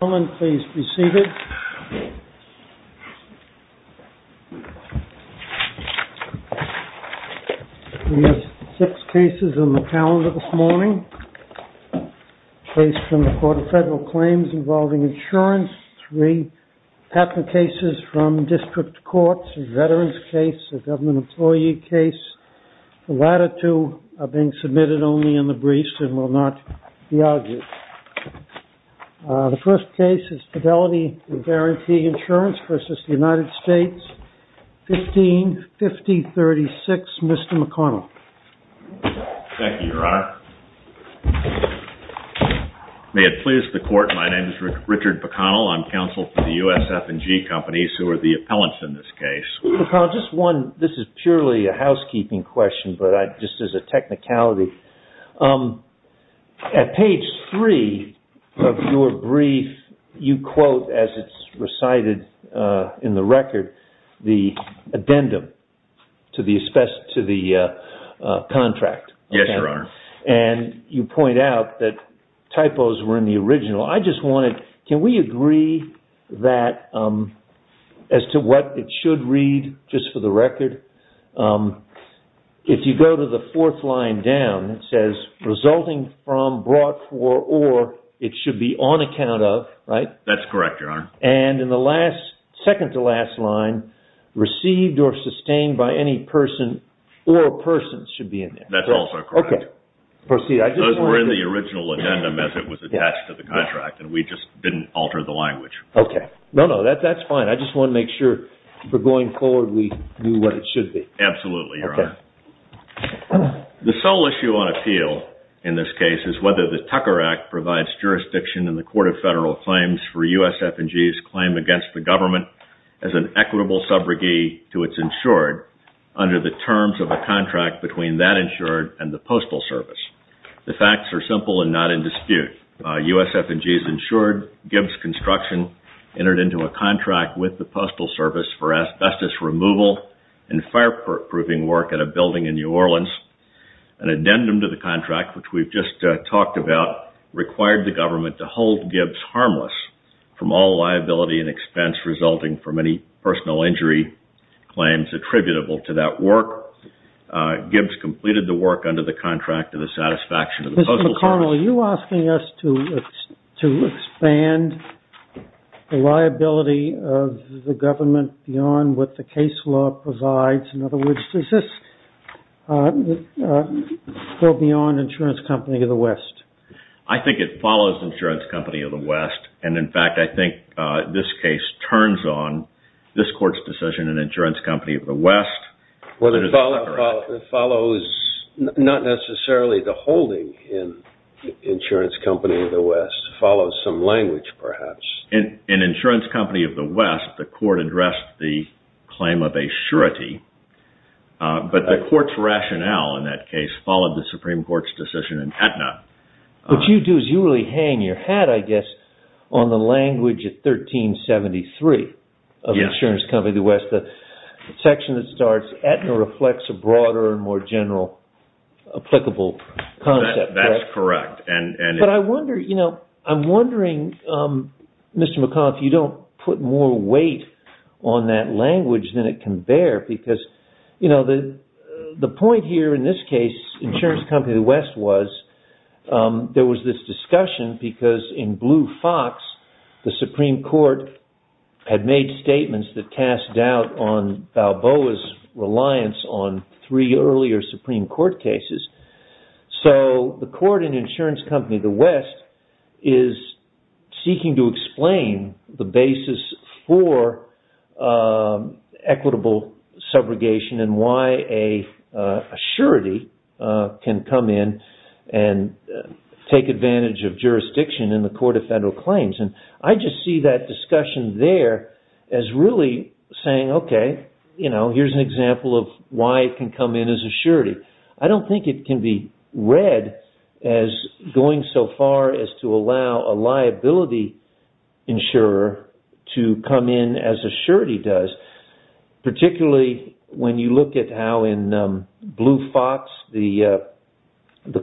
Please be seated. We have six cases on the calendar this morning. A case from the Court of Federal Claims involving insurance, three patent cases from district courts, a veterans case, a government employee case. The latter two are being submitted only in the briefs and will not be argued. The first case is Fidelity and Guarantee Insurance v. United States, 155036, Mr. McConnell. Thank you, Your Honor. May it please the Court, my name is Richard McConnell. I'm counsel for the USF&G companies who are the appellants in this case. Mr. McConnell, this is purely a housekeeping question, but just as a technicality. At page three of your brief, you quote, as it's recited in the record, the addendum to the contract. Yes, Your Honor. And you point out that typos were in the original. I just wanted, can we agree that, as to what it should read, just for the record? If you go to the fourth line down, it says, resulting from, brought for, or, it should be on account of, right? That's correct, Your Honor. And in the last, second to last line, received or sustained by any person or persons should be in there. That's also correct. Okay. Proceed. Those were in the original addendum as it was attached to the contract, and we just didn't alter the language. Okay. No, no, that's fine. I just wanted to make sure, for going forward, we knew what it should be. Absolutely, Your Honor. Okay. The sole issue on appeal in this case is whether the Tucker Act provides jurisdiction in the Court of Federal Claims for USF&G's claim against the government as an equitable subrogate to its insured under the terms of a contract between that insured and the Postal Service. The facts are simple and not in dispute. USF&G's insured Gibbs construction entered into a contract with the Postal Service for asbestos removal and fireproofing work at a building in New Orleans. An addendum to the contract, which we've just talked about, required the government to hold Gibbs harmless from all liability and expense resulting from any personal injury claims attributable to that work. Gibbs completed the work under the contract to the satisfaction of the Postal Service. Mr. McConnell, are you asking us to expand the liability of the government beyond what the case law provides? In other words, is this still beyond Insurance Company of the West? I think it follows Insurance Company of the West, and, in fact, I think this case turns on this Court's decision in Insurance Company of the West. Well, it follows not necessarily the holding in Insurance Company of the West. It follows some language, perhaps. In Insurance Company of the West, the Court addressed the claim of a surety, but the Court's rationale in that case followed the Supreme Court's decision in Aetna. What you do is you really hang your hat, I guess, on the language of 1373 of Insurance Company of the West. The section that starts Aetna reflects a broader and more general applicable concept. That's correct. I'm wondering, Mr. McConnell, if you don't put more weight on that language than it can bear. The point here in this case, Insurance Company of the West, was there was this discussion because in Blue Fox, the Supreme Court had made statements that cast doubt on Balboa's reliance on three earlier Supreme Court cases. The Court in Insurance Company of the West is seeking to explain the basis for equitable subrogation and why a surety can come in and take advantage of jurisdiction in the Court of Federal Claims. I just see that discussion there as really saying, okay, here's an example of why it can come in as a surety. I don't think it can be read as going so far as to allow a liability insurer to come in as a surety does. Particularly, when you look at how in Blue Fox, the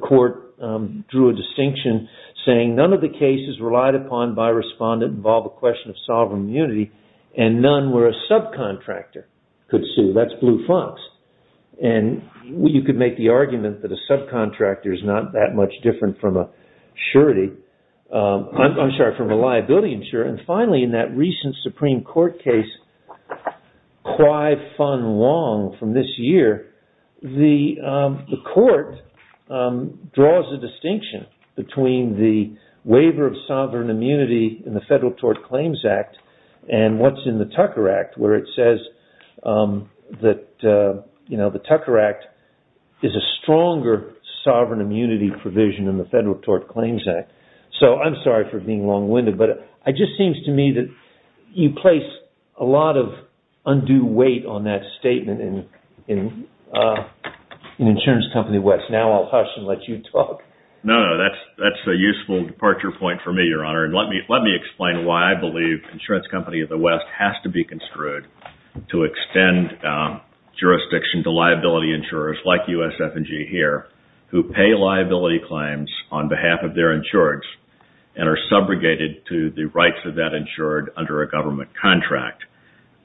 Court drew a distinction saying none of the cases relied upon by respondent involve a question of sovereign immunity and none where a subcontractor could sue. That's Blue Fox. You could make the argument that a subcontractor is not that much different from a liability insurer. Finally, in that recent Supreme Court case, Kwai-Fun Wong from this year, the Court draws a distinction between the waiver of sovereign immunity in the Federal Tort Claims Act and what's in the Tucker Act where it says that the Tucker Act is a stronger sovereign immunity provision in the Federal Tort Claims Act. I'm sorry for being long-winded, but it just seems to me that you place a lot of undue weight on that statement in Insurance Company of the West. Now, I'll hush and let you talk. No, that's a useful departure point for me, Your Honor. Let me explain why I believe Insurance Company of the West has to be construed to extend jurisdiction to liability insurers like USF&G here who pay liability claims on behalf of their insurers and are subrogated to the rights of that insured under a government contract.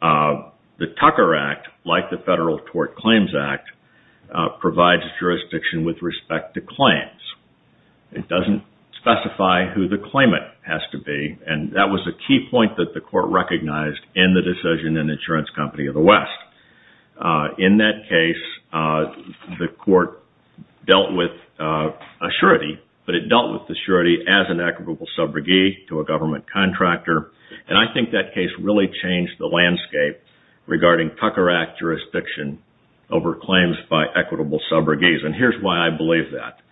The Tucker Act, like the Federal Tort Claims Act, provides jurisdiction with respect to claims. It doesn't specify who the claimant has to be, and that was a key point that the Court recognized in the decision in Insurance Company of the West. In that case, the Court dealt with assurity, but it dealt with the surety as an equitable subrogate to a government contractor, and I think that case really changed the landscape regarding Tucker Act jurisdiction over claims by equitable subrogates, and here's why I believe that.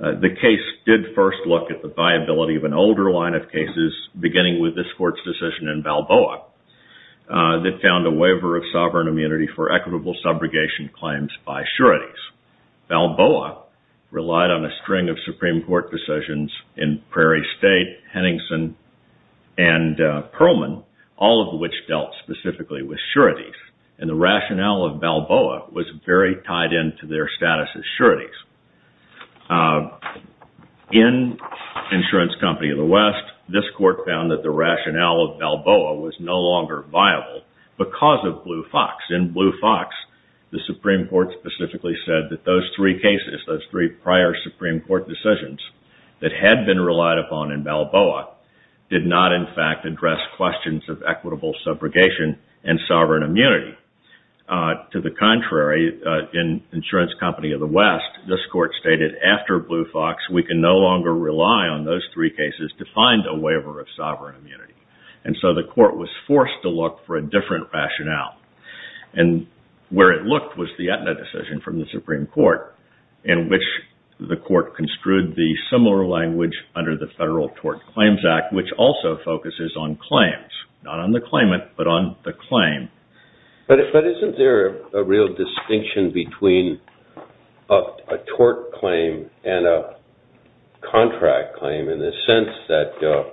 The case did first look at the viability of an older line of cases beginning with this Court's decision in Balboa that found a waiver of sovereign immunity for equitable subrogation claims by sureties. Balboa relied on a string of Supreme Court decisions in Prairie State, Henningsen, and Perlman, all of which dealt specifically with sureties, and the rationale of Balboa was very tied into their status as sureties. In Insurance Company of the West, this Court found that the rationale of Balboa was no longer viable because of Blue Fox. In Blue Fox, the Supreme Court specifically said that those three cases, those three prior Supreme Court decisions that had been relied upon in Balboa did not, in fact, address questions of equitable subrogation and sovereign immunity. To the contrary, in Insurance Company of the West, this Court stated after Blue Fox, we can no longer rely on those three cases to find a waiver of sovereign immunity, and so the Court was forced to look for a different rationale, and where it looked was the Aetna decision from the Supreme Court in which the Court construed the similar language under the Federal Tort Claims Act, which also focuses on claims, not on the claimant, but on the claim. But isn't there a real distinction between a tort claim and a contract claim in the sense that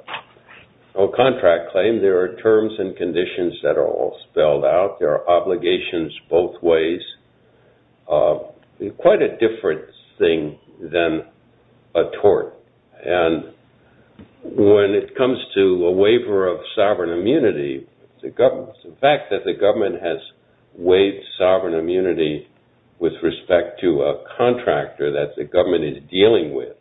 a contract claim, there are terms and conditions that are all spelled out, there are obligations both ways, quite a different thing than a tort. And when it comes to a waiver of sovereign immunity, the fact that the government has waived sovereign immunity with respect to a contractor that the government is dealing with,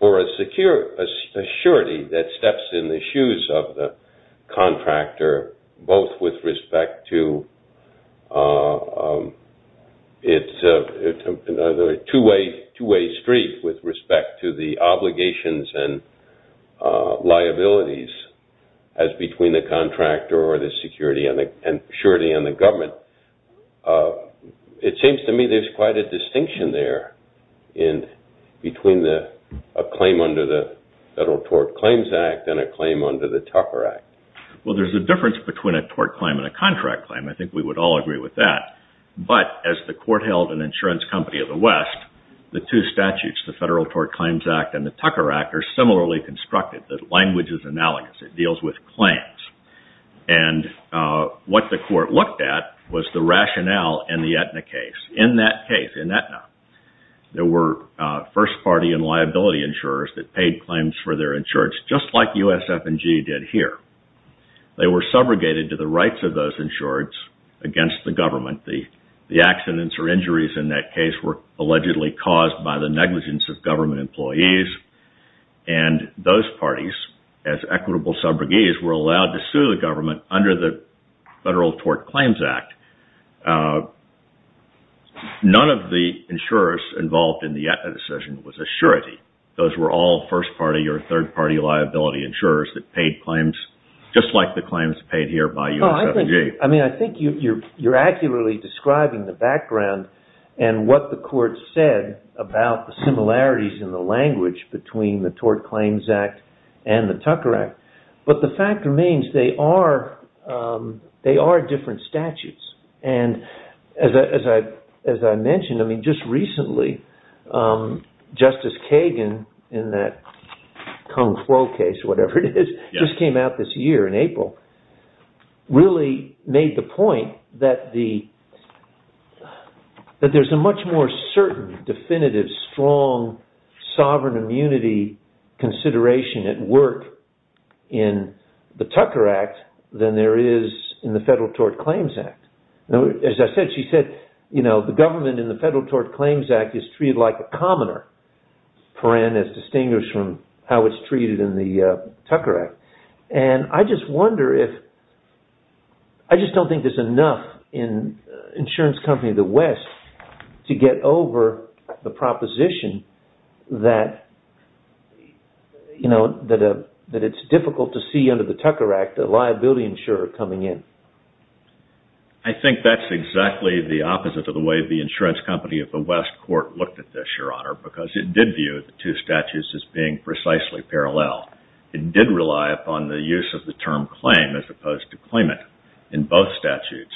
or a security that steps in the shoes of the contractor, both with respect to, it's a two-way street with respect to the obligations and liabilities as between the contractor or the security and the government, it seems to me there's quite a distinction there between a claim under the Federal Tort Claims Act and a claim under the Tucker Act. Well, there's a difference between a tort claim and a contract claim. I think we would all agree with that. But as the Court held an insurance company of the West, the two statutes, the Federal Tort Claims Act and the Tucker Act, are similarly constructed. The language is analogous. It deals with claims. And what the Court looked at was the rationale in the Aetna case. In that case, in Aetna, there were first party and liability insurers that paid claims for their insurance, just like USF&G did here. They were subrogated to the rights of those insureds against the government. The accidents or injuries in that case were allegedly caused by the negligence of government employees. And those parties, as equitable subrogates, were allowed to sue the government under the Federal Tort Claims Act. None of the insurers involved in the Aetna decision was a surety. Those were all first party or third party liability insurers that paid claims, just like the claims paid here by USF&G. I think you're accurately describing the background and what the Court said about the similarities in the language between the Tort Claims Act and the Tucker Act. But the fact remains, they are different statutes. And as I mentioned, just recently, Justice Kagan, in that Kung Fu case or whatever it is, just came out this year in April, really made the point that there's a much more certain, definitive, strong, sovereign immunity consideration at work in the Tucker Act than there is in the Federal Tort Claims Act. As I said, she said, you know, the government in the Federal Tort Claims Act is treated like a commoner, as distinguished from how it's treated in the Tucker Act. And I just wonder if... I just don't think there's enough in insurance companies of the West to get over the proposition that it's difficult to see under the Tucker Act a liability insurer coming in. I think that's exactly the opposite of the way the insurance company of the West Court looked at this, Your Honor, because it did view the two statutes as being precisely parallel. It did rely upon the use of the term claim as opposed to claimant in both statutes.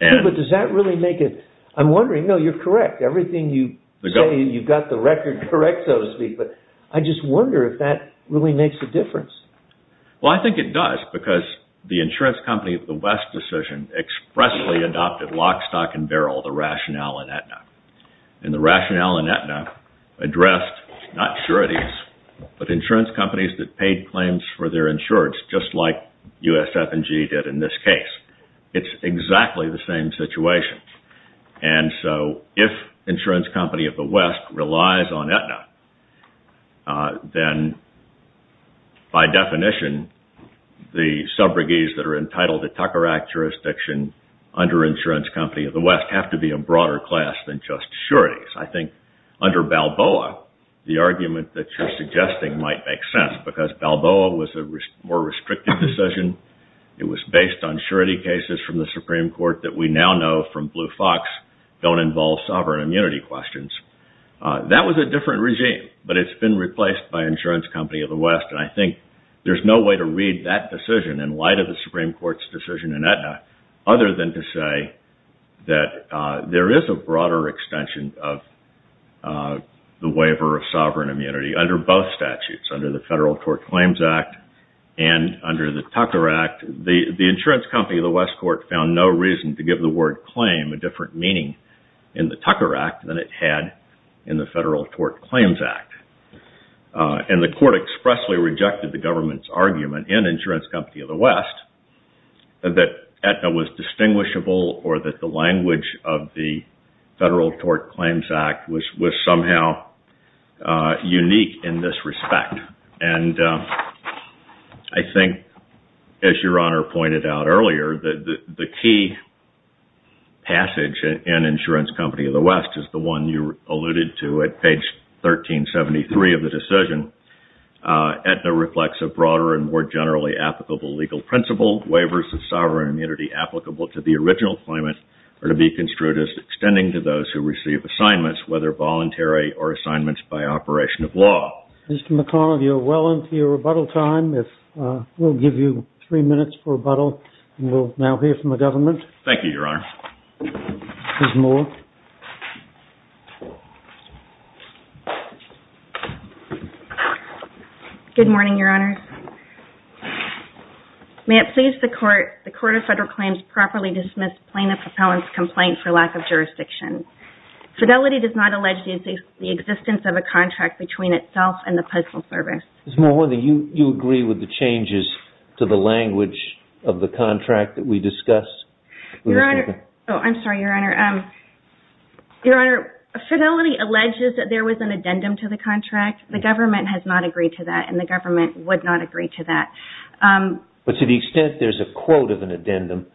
But does that really make it... I'm wondering... No, you're correct. Everything you say, you've got the record correct, so to speak. But I just wonder if that really makes a difference. Well, I think it does, because the insurance company of the West decision expressly adopted lock, stock, and barrel, the rationale in Aetna. And the rationale in Aetna addressed, not sure it is, but insurance companies that paid claims for their insurance, just like USF&G did in this case. It's exactly the same situation. And so if insurance company of the West relies on Aetna, then by definition, the sub-brigades that are entitled to Tucker Act jurisdiction under insurance company of the West have to be a broader class than just sureties. I think under Balboa, the argument that you're suggesting might make sense, because Balboa was a more restricted decision. It was based on surety cases from the Supreme Court that we now know from Blue Fox don't involve sovereign immunity questions. That was a different regime, but it's been replaced by insurance company of the West. And I think there's no way to read that decision in light of the Supreme Court's decision in Aetna, other than to say that there is a broader extension of the waiver of sovereign immunity under both statutes, under the Federal Tort Claims Act and under the Tucker Act. In fact, the insurance company of the West court found no reason to give the word claim a different meaning in the Tucker Act than it had in the Federal Tort Claims Act. And the court expressly rejected the government's argument in insurance company of the West that Aetna was distinguishable or that the language of the Federal Tort Claims Act was somehow unique in this respect. And I think, as Your Honor pointed out earlier, the key passage in insurance company of the West is the one you alluded to at page 1373 of the decision. Mr. McConnell, you're well into your rebuttal time. We'll give you three minutes for rebuttal, and we'll now hear from the government. Thank you, Your Honor. Ms. Moore? Good morning, Your Honors. May it please the Court, the Court of Federal Claims, properly dismiss plaintiff appellant's complaint for lack of jurisdiction. Fidelity does not allege the existence of a contract between itself and the Postal Service. Ms. Moore, do you agree with the changes to the language of the contract that we discussed? Oh, I'm sorry, Your Honor. Fidelity alleges that there was an addendum to the contract. The government has not agreed to that, and the government would not agree to that. But to the extent there's a quote of an addendum,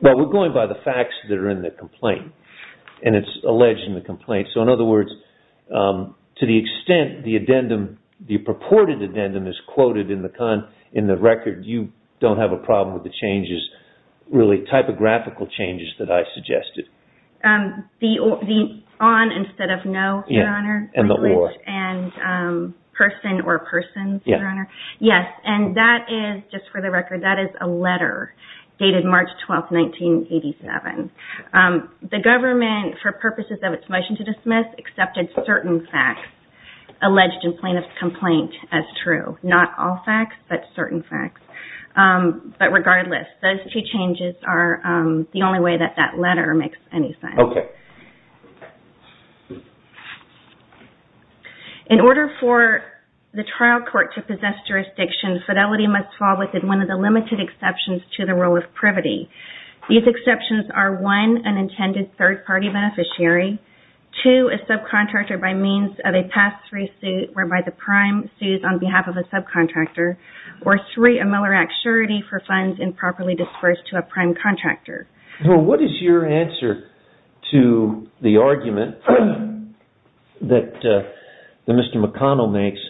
well, we're going by the facts that are in the complaint, and it's alleged in the complaint. So, in other words, to the extent the addendum, the purported addendum is quoted in the record, you don't have a problem with the changes, really typographical changes that I suggested. The on instead of no, Your Honor. And the or. And person or persons, Your Honor. Yes. And that is, just for the record, that is a letter dated March 12, 1987. The government, for purposes of its motion to dismiss, accepted certain facts alleged in plaintiff's complaint as true. Not all facts, but certain facts. But regardless, those two changes are the only way that that letter makes any sense. Okay. In order for the trial court to possess jurisdiction, fidelity must fall within one of the limited exceptions to the rule of privity. These exceptions are, one, an intended third-party beneficiary, two, a subcontractor by means of a past-free suit whereby the prime sues on behalf of a subcontractor, or three, a Miller Act surety for funds improperly disbursed to a prime contractor. Well, what is your answer to the argument that Mr. McConnell makes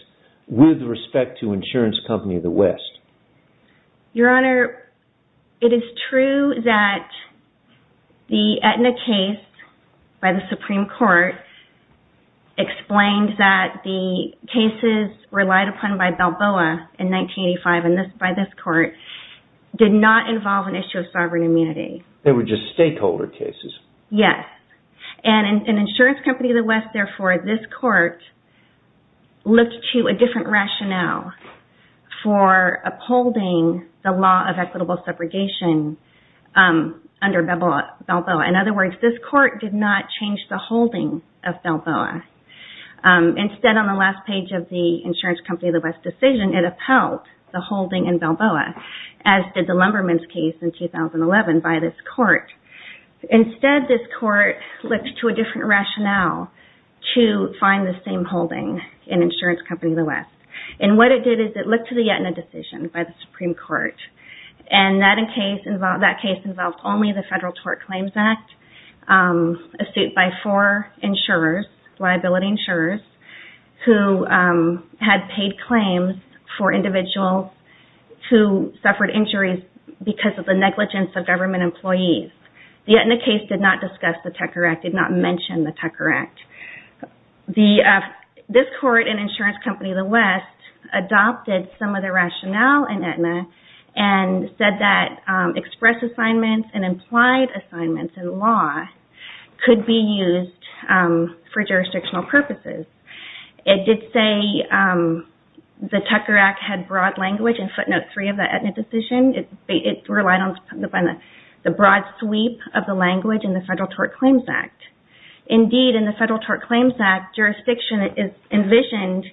with respect to Insurance Company of the West? Your Honor, it is true that the Aetna case by the Supreme Court explained that the cases relied upon by Balboa in 1985 by this court did not involve an issue of sovereign immunity. They were just stakeholder cases. Yes. And in Insurance Company of the West, therefore, this court looked to a different rationale for upholding the law of equitable separation under Balboa. In other words, this court did not change the holding of Balboa. Instead, on the last page of the Insurance Company of the West decision, it upheld the holding in Balboa, as did the Lumberman's case in 2011 by this court. Instead, this court looked to a different rationale to find the same holding in Insurance Company of the West. And what it did is it looked to the Aetna decision by the Supreme Court, and that case involved only the Federal Tort Claims Act, a suit by four insurers, liability insurers, who had paid claims for individuals who suffered injuries because of the negligence of government employees. The Aetna case did not discuss the Tucker Act, did not mention the Tucker Act. This court in Insurance Company of the West adopted some of the rationale in Aetna and said that express assignments and implied assignments in law could be used for jurisdictional purposes. It did say the Tucker Act had broad language in footnote three of the Aetna decision. It relied on the broad sweep of the language in the Federal Tort Claims Act. Indeed, in the Federal Tort Claims Act, jurisdiction is envisioned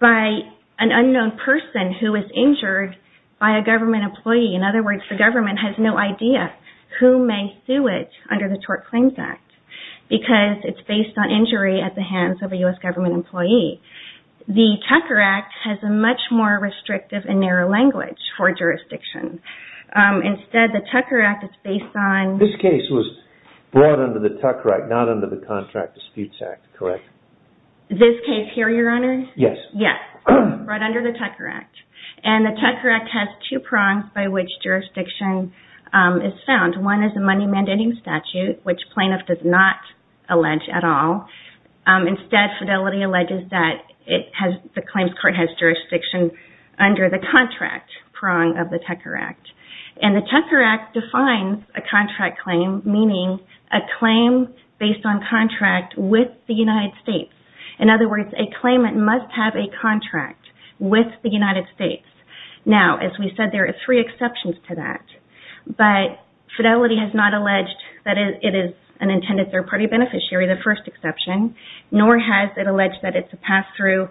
by an unknown person who is injured by a government employee. In other words, the government has no idea who may sue it under the Tort Claims Act because it's based on injury at the hands of a U.S. government employee. The Tucker Act has a much more restrictive and narrow language for jurisdiction. Instead, the Tucker Act is based on... This case was brought under the Tucker Act, not under the Contract Disputes Act, correct? This case here, Your Honors? Yes. Yes, brought under the Tucker Act. The Tucker Act has two prongs by which jurisdiction is found. One is the money mandating statute, which plaintiff does not allege at all. Instead, Fidelity alleges that the claims court has jurisdiction under the contract prong of the Tucker Act. The Tucker Act defines a contract claim, meaning a claim based on contract with the United States. In other words, a claimant must have a contract with the United States. Now, as we said, there are three exceptions to that. But Fidelity has not alleged that it is an intended third-party beneficiary, the first exception, nor has it alleged that it's a pass-through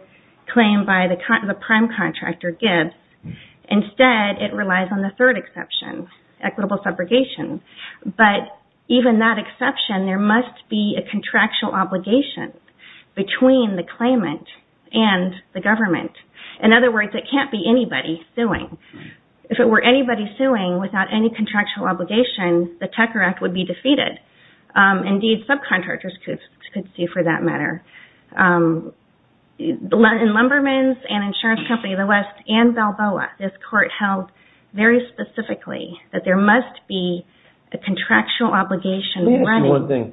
claim by the prime contractor, Gibbs. Instead, it relies on the third exception, equitable subrogation. But even that exception, there must be a contractual obligation between the claimant and the government. In other words, it can't be anybody suing. If it were anybody suing without any contractual obligation, the Tucker Act would be defeated. Indeed, subcontractors could sue for that matter. In Lumberman's and Insurance Company of the West and Balboa, this court held very specifically that there must be a contractual obligation. Let me ask you one thing.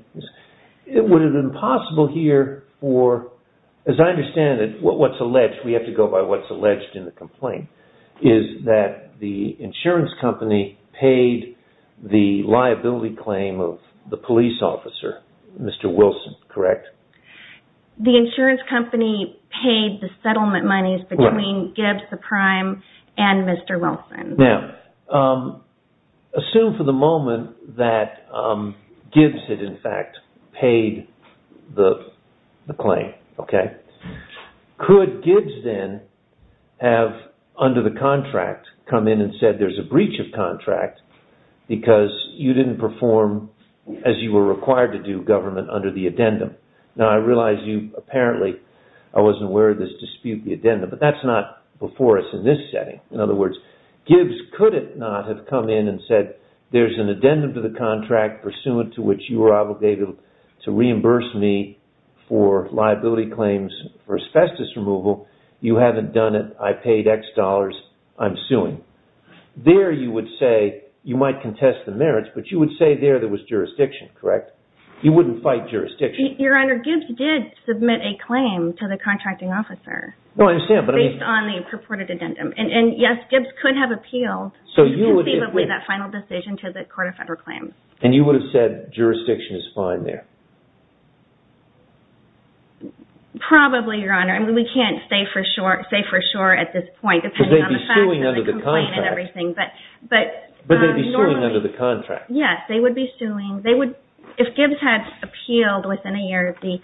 Would it have been possible here for, as I understand it, what's alleged, we have to go by what's alleged in the complaint, is that the insurance company paid the liability claim of the police officer, Mr. Wilson, correct? The insurance company paid the settlement monies between Gibbs, the prime, and Mr. Wilson. Now, assume for the moment that Gibbs, in fact, paid the claim. Could Gibbs then have, under the contract, come in and said there's a breach of contract because you didn't perform as you were required to do, government, under the addendum? Now, I realize you apparently, I wasn't aware of this dispute, the addendum, but that's not before us in this setting. In other words, Gibbs could it not have come in and said there's an addendum to the contract pursuant to which you are obligated to reimburse me for liability claims for asbestos removal. You haven't done it. I paid X dollars. I'm suing. There you would say, you might contest the merits, but you would say there there was jurisdiction, correct? You wouldn't fight jurisdiction. Your Honor, Gibbs did submit a claim to the contracting officer based on the purported addendum. And yes, Gibbs could have appealed conceivably that final decision to the Court of Federal Claims. And you would have said jurisdiction is fine there? Probably, Your Honor. We can't say for sure at this point. Because they'd be suing under the contract. But they'd be suing under the contract. Yes, they would be suing. If Gibbs had appealed within a year of the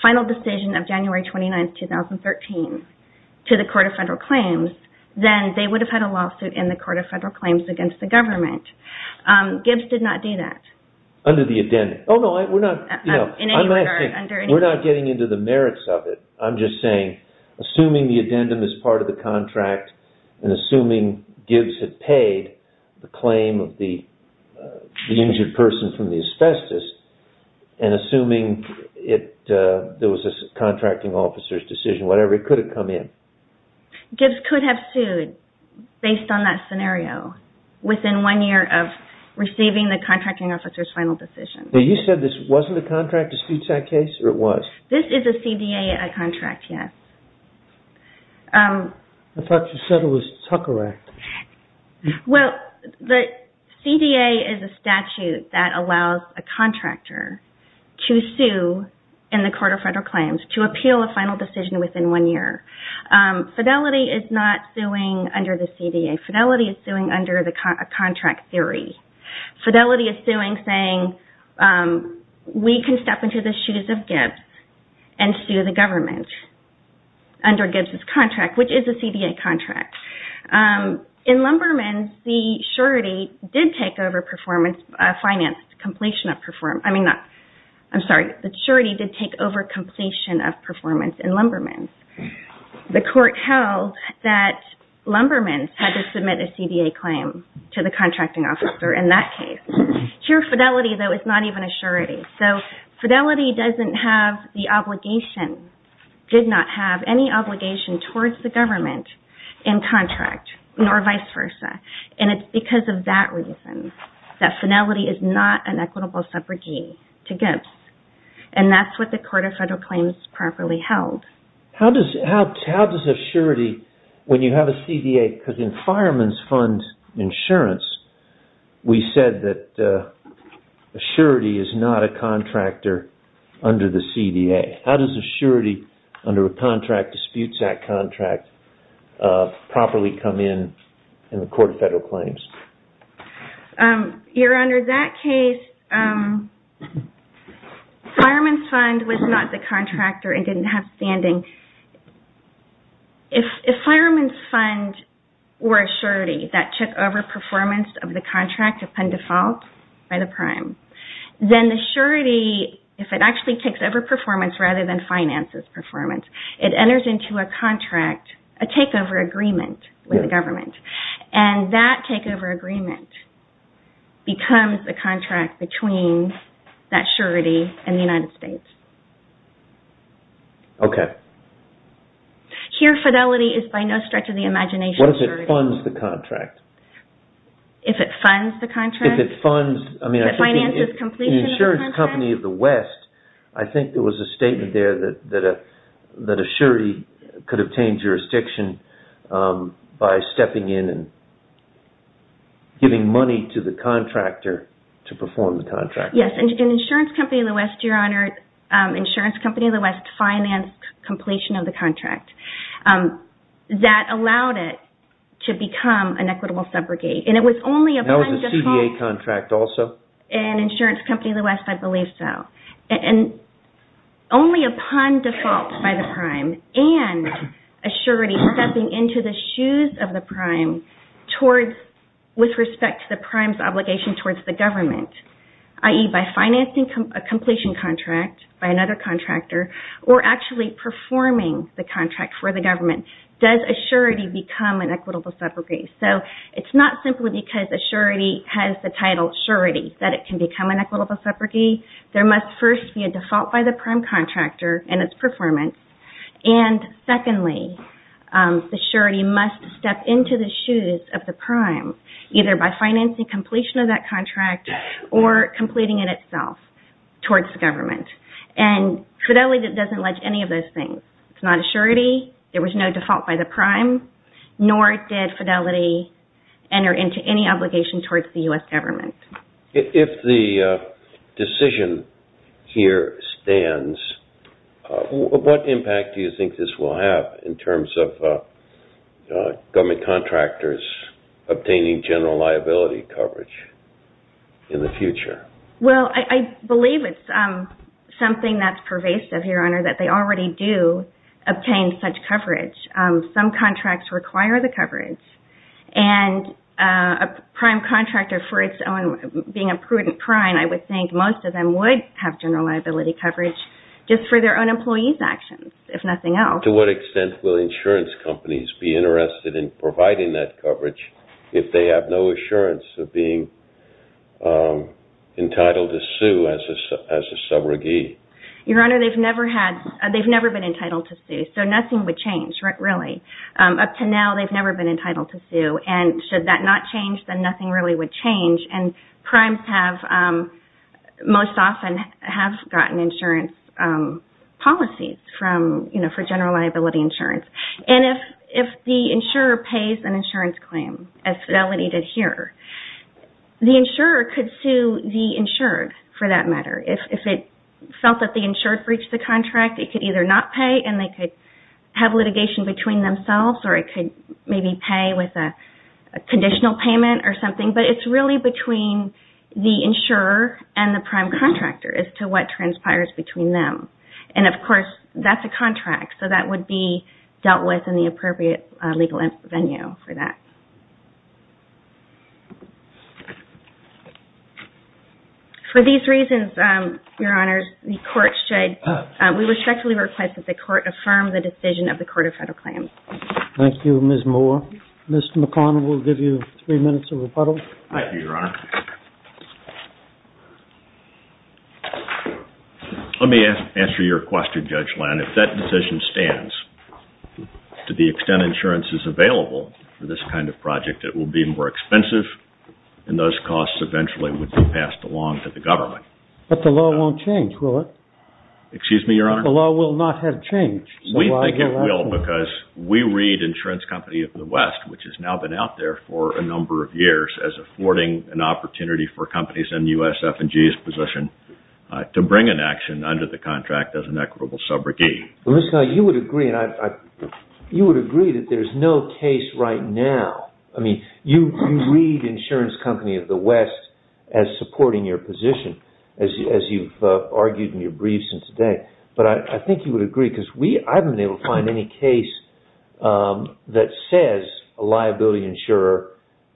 final decision of January 29, 2013 to the Court of Federal Claims, then they would have had a lawsuit in the Court of Federal Claims against the government. Gibbs did not do that. Under the addendum? No, we're not getting into the merits of it. I'm just saying, assuming the addendum is part of the contract, and assuming Gibbs had paid the claim of the injured person from the asbestos, and assuming there was a contracting officer's decision, whatever, it could have come in. Gibbs could have sued based on that scenario. Within one year of receiving the contracting officer's final decision. Now, you said this wasn't a contract dispute case, or it was? This is a CDA contract, yes. I thought you said it was Tucker Act. Well, the CDA is a statute that allows a contractor to sue in the Court of Federal Claims, to appeal a final decision within one year. Fidelity is not suing under the CDA. Fidelity is suing under a contract theory. Fidelity is suing, saying, we can step into the shoes of Gibbs and sue the government under Gibbs' contract, which is a CDA contract. In Lumberman's, the surety did take over performance, finance, completion of performance. I'm sorry, the surety did take over completion of performance in Lumberman's. The Court held that Lumberman's had to submit a CDA claim to the contracting officer in that case. Here, Fidelity, though, is not even a surety. Fidelity did not have any obligation towards the government in contract, nor vice versa. It's because of that reason that Fidelity is not an equitable subrogate to Gibbs. That's what the Court of Federal Claims properly held. How does a surety, when you have a CDA, because in Fireman's Fund insurance, we said that a surety is not a contractor under the CDA. How does a surety under a contract, a disputes act contract, properly come in in the Court of Federal Claims? Your Honor, in that case, Fireman's Fund was not the contractor and didn't have standing. If Fireman's Fund were a surety that took over performance of the contract upon default by the prime, then the surety, if it actually takes over performance rather than finances performance, it enters into a contract, a takeover agreement with the government. That takeover agreement becomes the contract between that surety and the United States. Here, Fidelity is by no stretch of the imagination a surety. What if it funds the contract? If it funds the contract? If it funds... If it finances completion of the contract? The insurance company of the West, I think there was a statement there that a surety could obtain jurisdiction by stepping in and giving money to the contractor to perform the contract. Yes, an insurance company of the West, Your Honor, insurance company of the West financed completion of the contract. That allowed it to become an equitable subrogate. It was only upon default... That was a CDA contract also? An insurance company of the West, I believe so. Only upon default by the prime and a surety stepping into the shoes of the prime with respect to the prime's obligation towards the government, i.e. by financing a completion contract by another contractor or actually performing the contract for the government, does a surety become an equitable subrogate. It's not simply because a surety has the title surety that it can become an equitable subrogate. There must first be a default by the prime contractor and its performance. Secondly, the surety must step into the shoes of the prime either by financing completion of that contract or completing it itself towards the government. Fidelity doesn't allege any of those things. It's not a surety. There was no default by the prime, nor did Fidelity enter into any obligation towards the U.S. government. If the decision here stands, what impact do you think this will have in terms of government contractors obtaining general liability coverage in the future? Well, I believe it's something that's pervasive, Your Honor, that they already do obtain such coverage. Some contracts require the coverage, and a prime contractor being a prudent prime, I would think most of them would have general liability coverage just for their own employees' actions, if nothing else. To what extent will insurance companies be interested in providing that coverage if they have no assurance of being entitled to sue as a subrogate? Your Honor, they've never been entitled to sue, so nothing would change, really. Up to now, they've never been entitled to sue, and should that not change, then nothing really would change, and primes most often have gotten insurance policies for general liability insurance. If the insurer pays an insurance claim, as Fidelity did here, the insurer could sue the insured, for that matter. If it felt that the insured breached the contract, it could either not pay, and they could have litigation between themselves, or it could maybe pay with a conditional payment or something, but it's really between the insurer and the prime contractor as to what transpires between them. And, of course, that's a contract, so that would be dealt with in the appropriate legal venue for that. For these reasons, Your Honors, we respectfully request that the Court affirm the decision of the Court of Federal Claims. Thank you, Ms. Moore. Mr. McConnell, we'll give you three minutes of rebuttal. Thank you, Your Honor. Let me answer your question, Judge Land. If that decision stands, to the extent insurance is available for this kind of project, it will be more expensive, and those costs eventually would be passed along to the government. But the law won't change, will it? Excuse me, Your Honor? The law will not have changed. We think it will, because we read Insurance Company of the West, which has now been out there for a number of years, as affording an opportunity for companies in USF&G's position to bring an action under the contract as an equitable subrogate. Mr. McConnell, you would agree that there's no case right now. I mean, you read Insurance Company of the West as supporting your position, as you've argued in your brief since today. But I think you would agree, because I haven't been able to find any case that says a liability insurer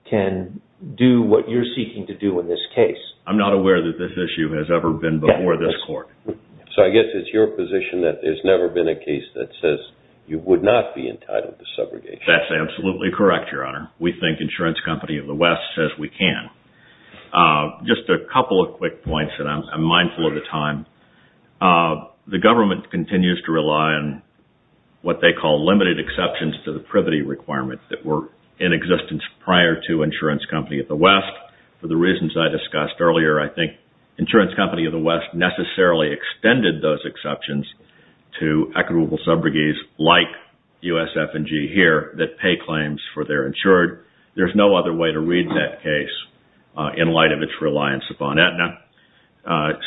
can do what you're seeking to do in this case. I'm not aware that this issue has ever been before this Court. So I guess it's your position that there's never been a case that says you would not be entitled to subrogation. That's absolutely correct, Your Honor. We think Insurance Company of the West says we can. Just a couple of quick points, and I'm mindful of the time. The government continues to rely on what they call limited exceptions to the privity requirements that were in existence prior to Insurance Company of the West. For the reasons I discussed earlier, I think Insurance Company of the West necessarily extended those exceptions to equitable subrogates like USF&G here that pay claims for their insured. There's no other way to read that case in light of its reliance upon Aetna.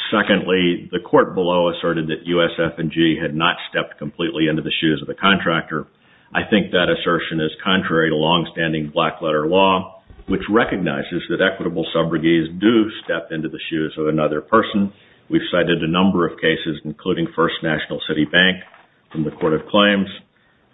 Secondly, the court below asserted that USF&G had not stepped completely into the shoes of the contractor. I think that assertion is contrary to longstanding black-letter law, which recognizes that equitable subrogates do step into the shoes of another person. We've cited a number of cases, including First National City Bank from the Court of Claims,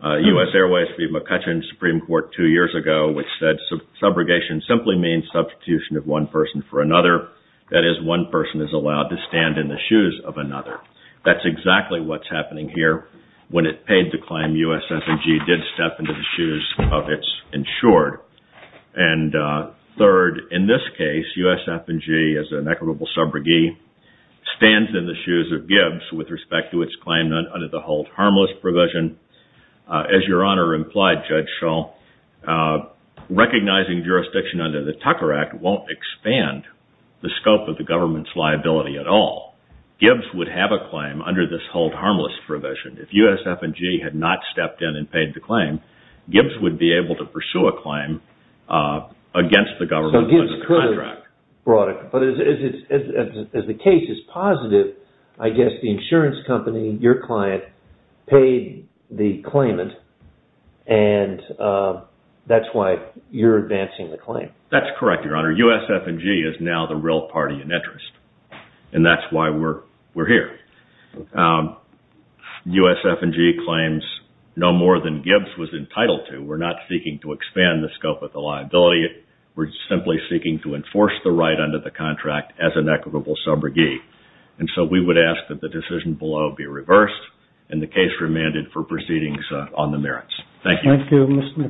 U.S. Airways v. McCutcheon Supreme Court two years ago, which said subrogation simply means substitution of one person for another. That is, one person is allowed to stand in the shoes of another. That's exactly what's happening here. When it paid the claim, USF&G did step into the shoes of its insured. Third, in this case, USF&G, as an equitable subrogate, stands in the shoes of Gibbs with respect to its claim under the Hold Harmless provision. As Your Honor implied, Judge Shull, recognizing jurisdiction under the Tucker Act won't expand the scope of the government's liability at all. Gibbs would have a claim under this Hold Harmless provision. If USF&G had not stepped in and paid the claim, Gibbs would be able to pursue a claim against the government under the contract. But as the case is positive, I guess the insurance company, your client, paid the claimant, and that's why you're advancing the claim. That's correct, Your Honor. USF&G is now the real party in interest. And that's why we're here. USF&G claims no more than Gibbs was entitled to. We're not seeking to expand the scope of the liability. We're simply seeking to enforce the right under the contract as an equitable subrogate. And so we would ask that the decision below be reversed and the case remanded for proceedings on the merits. Thank you.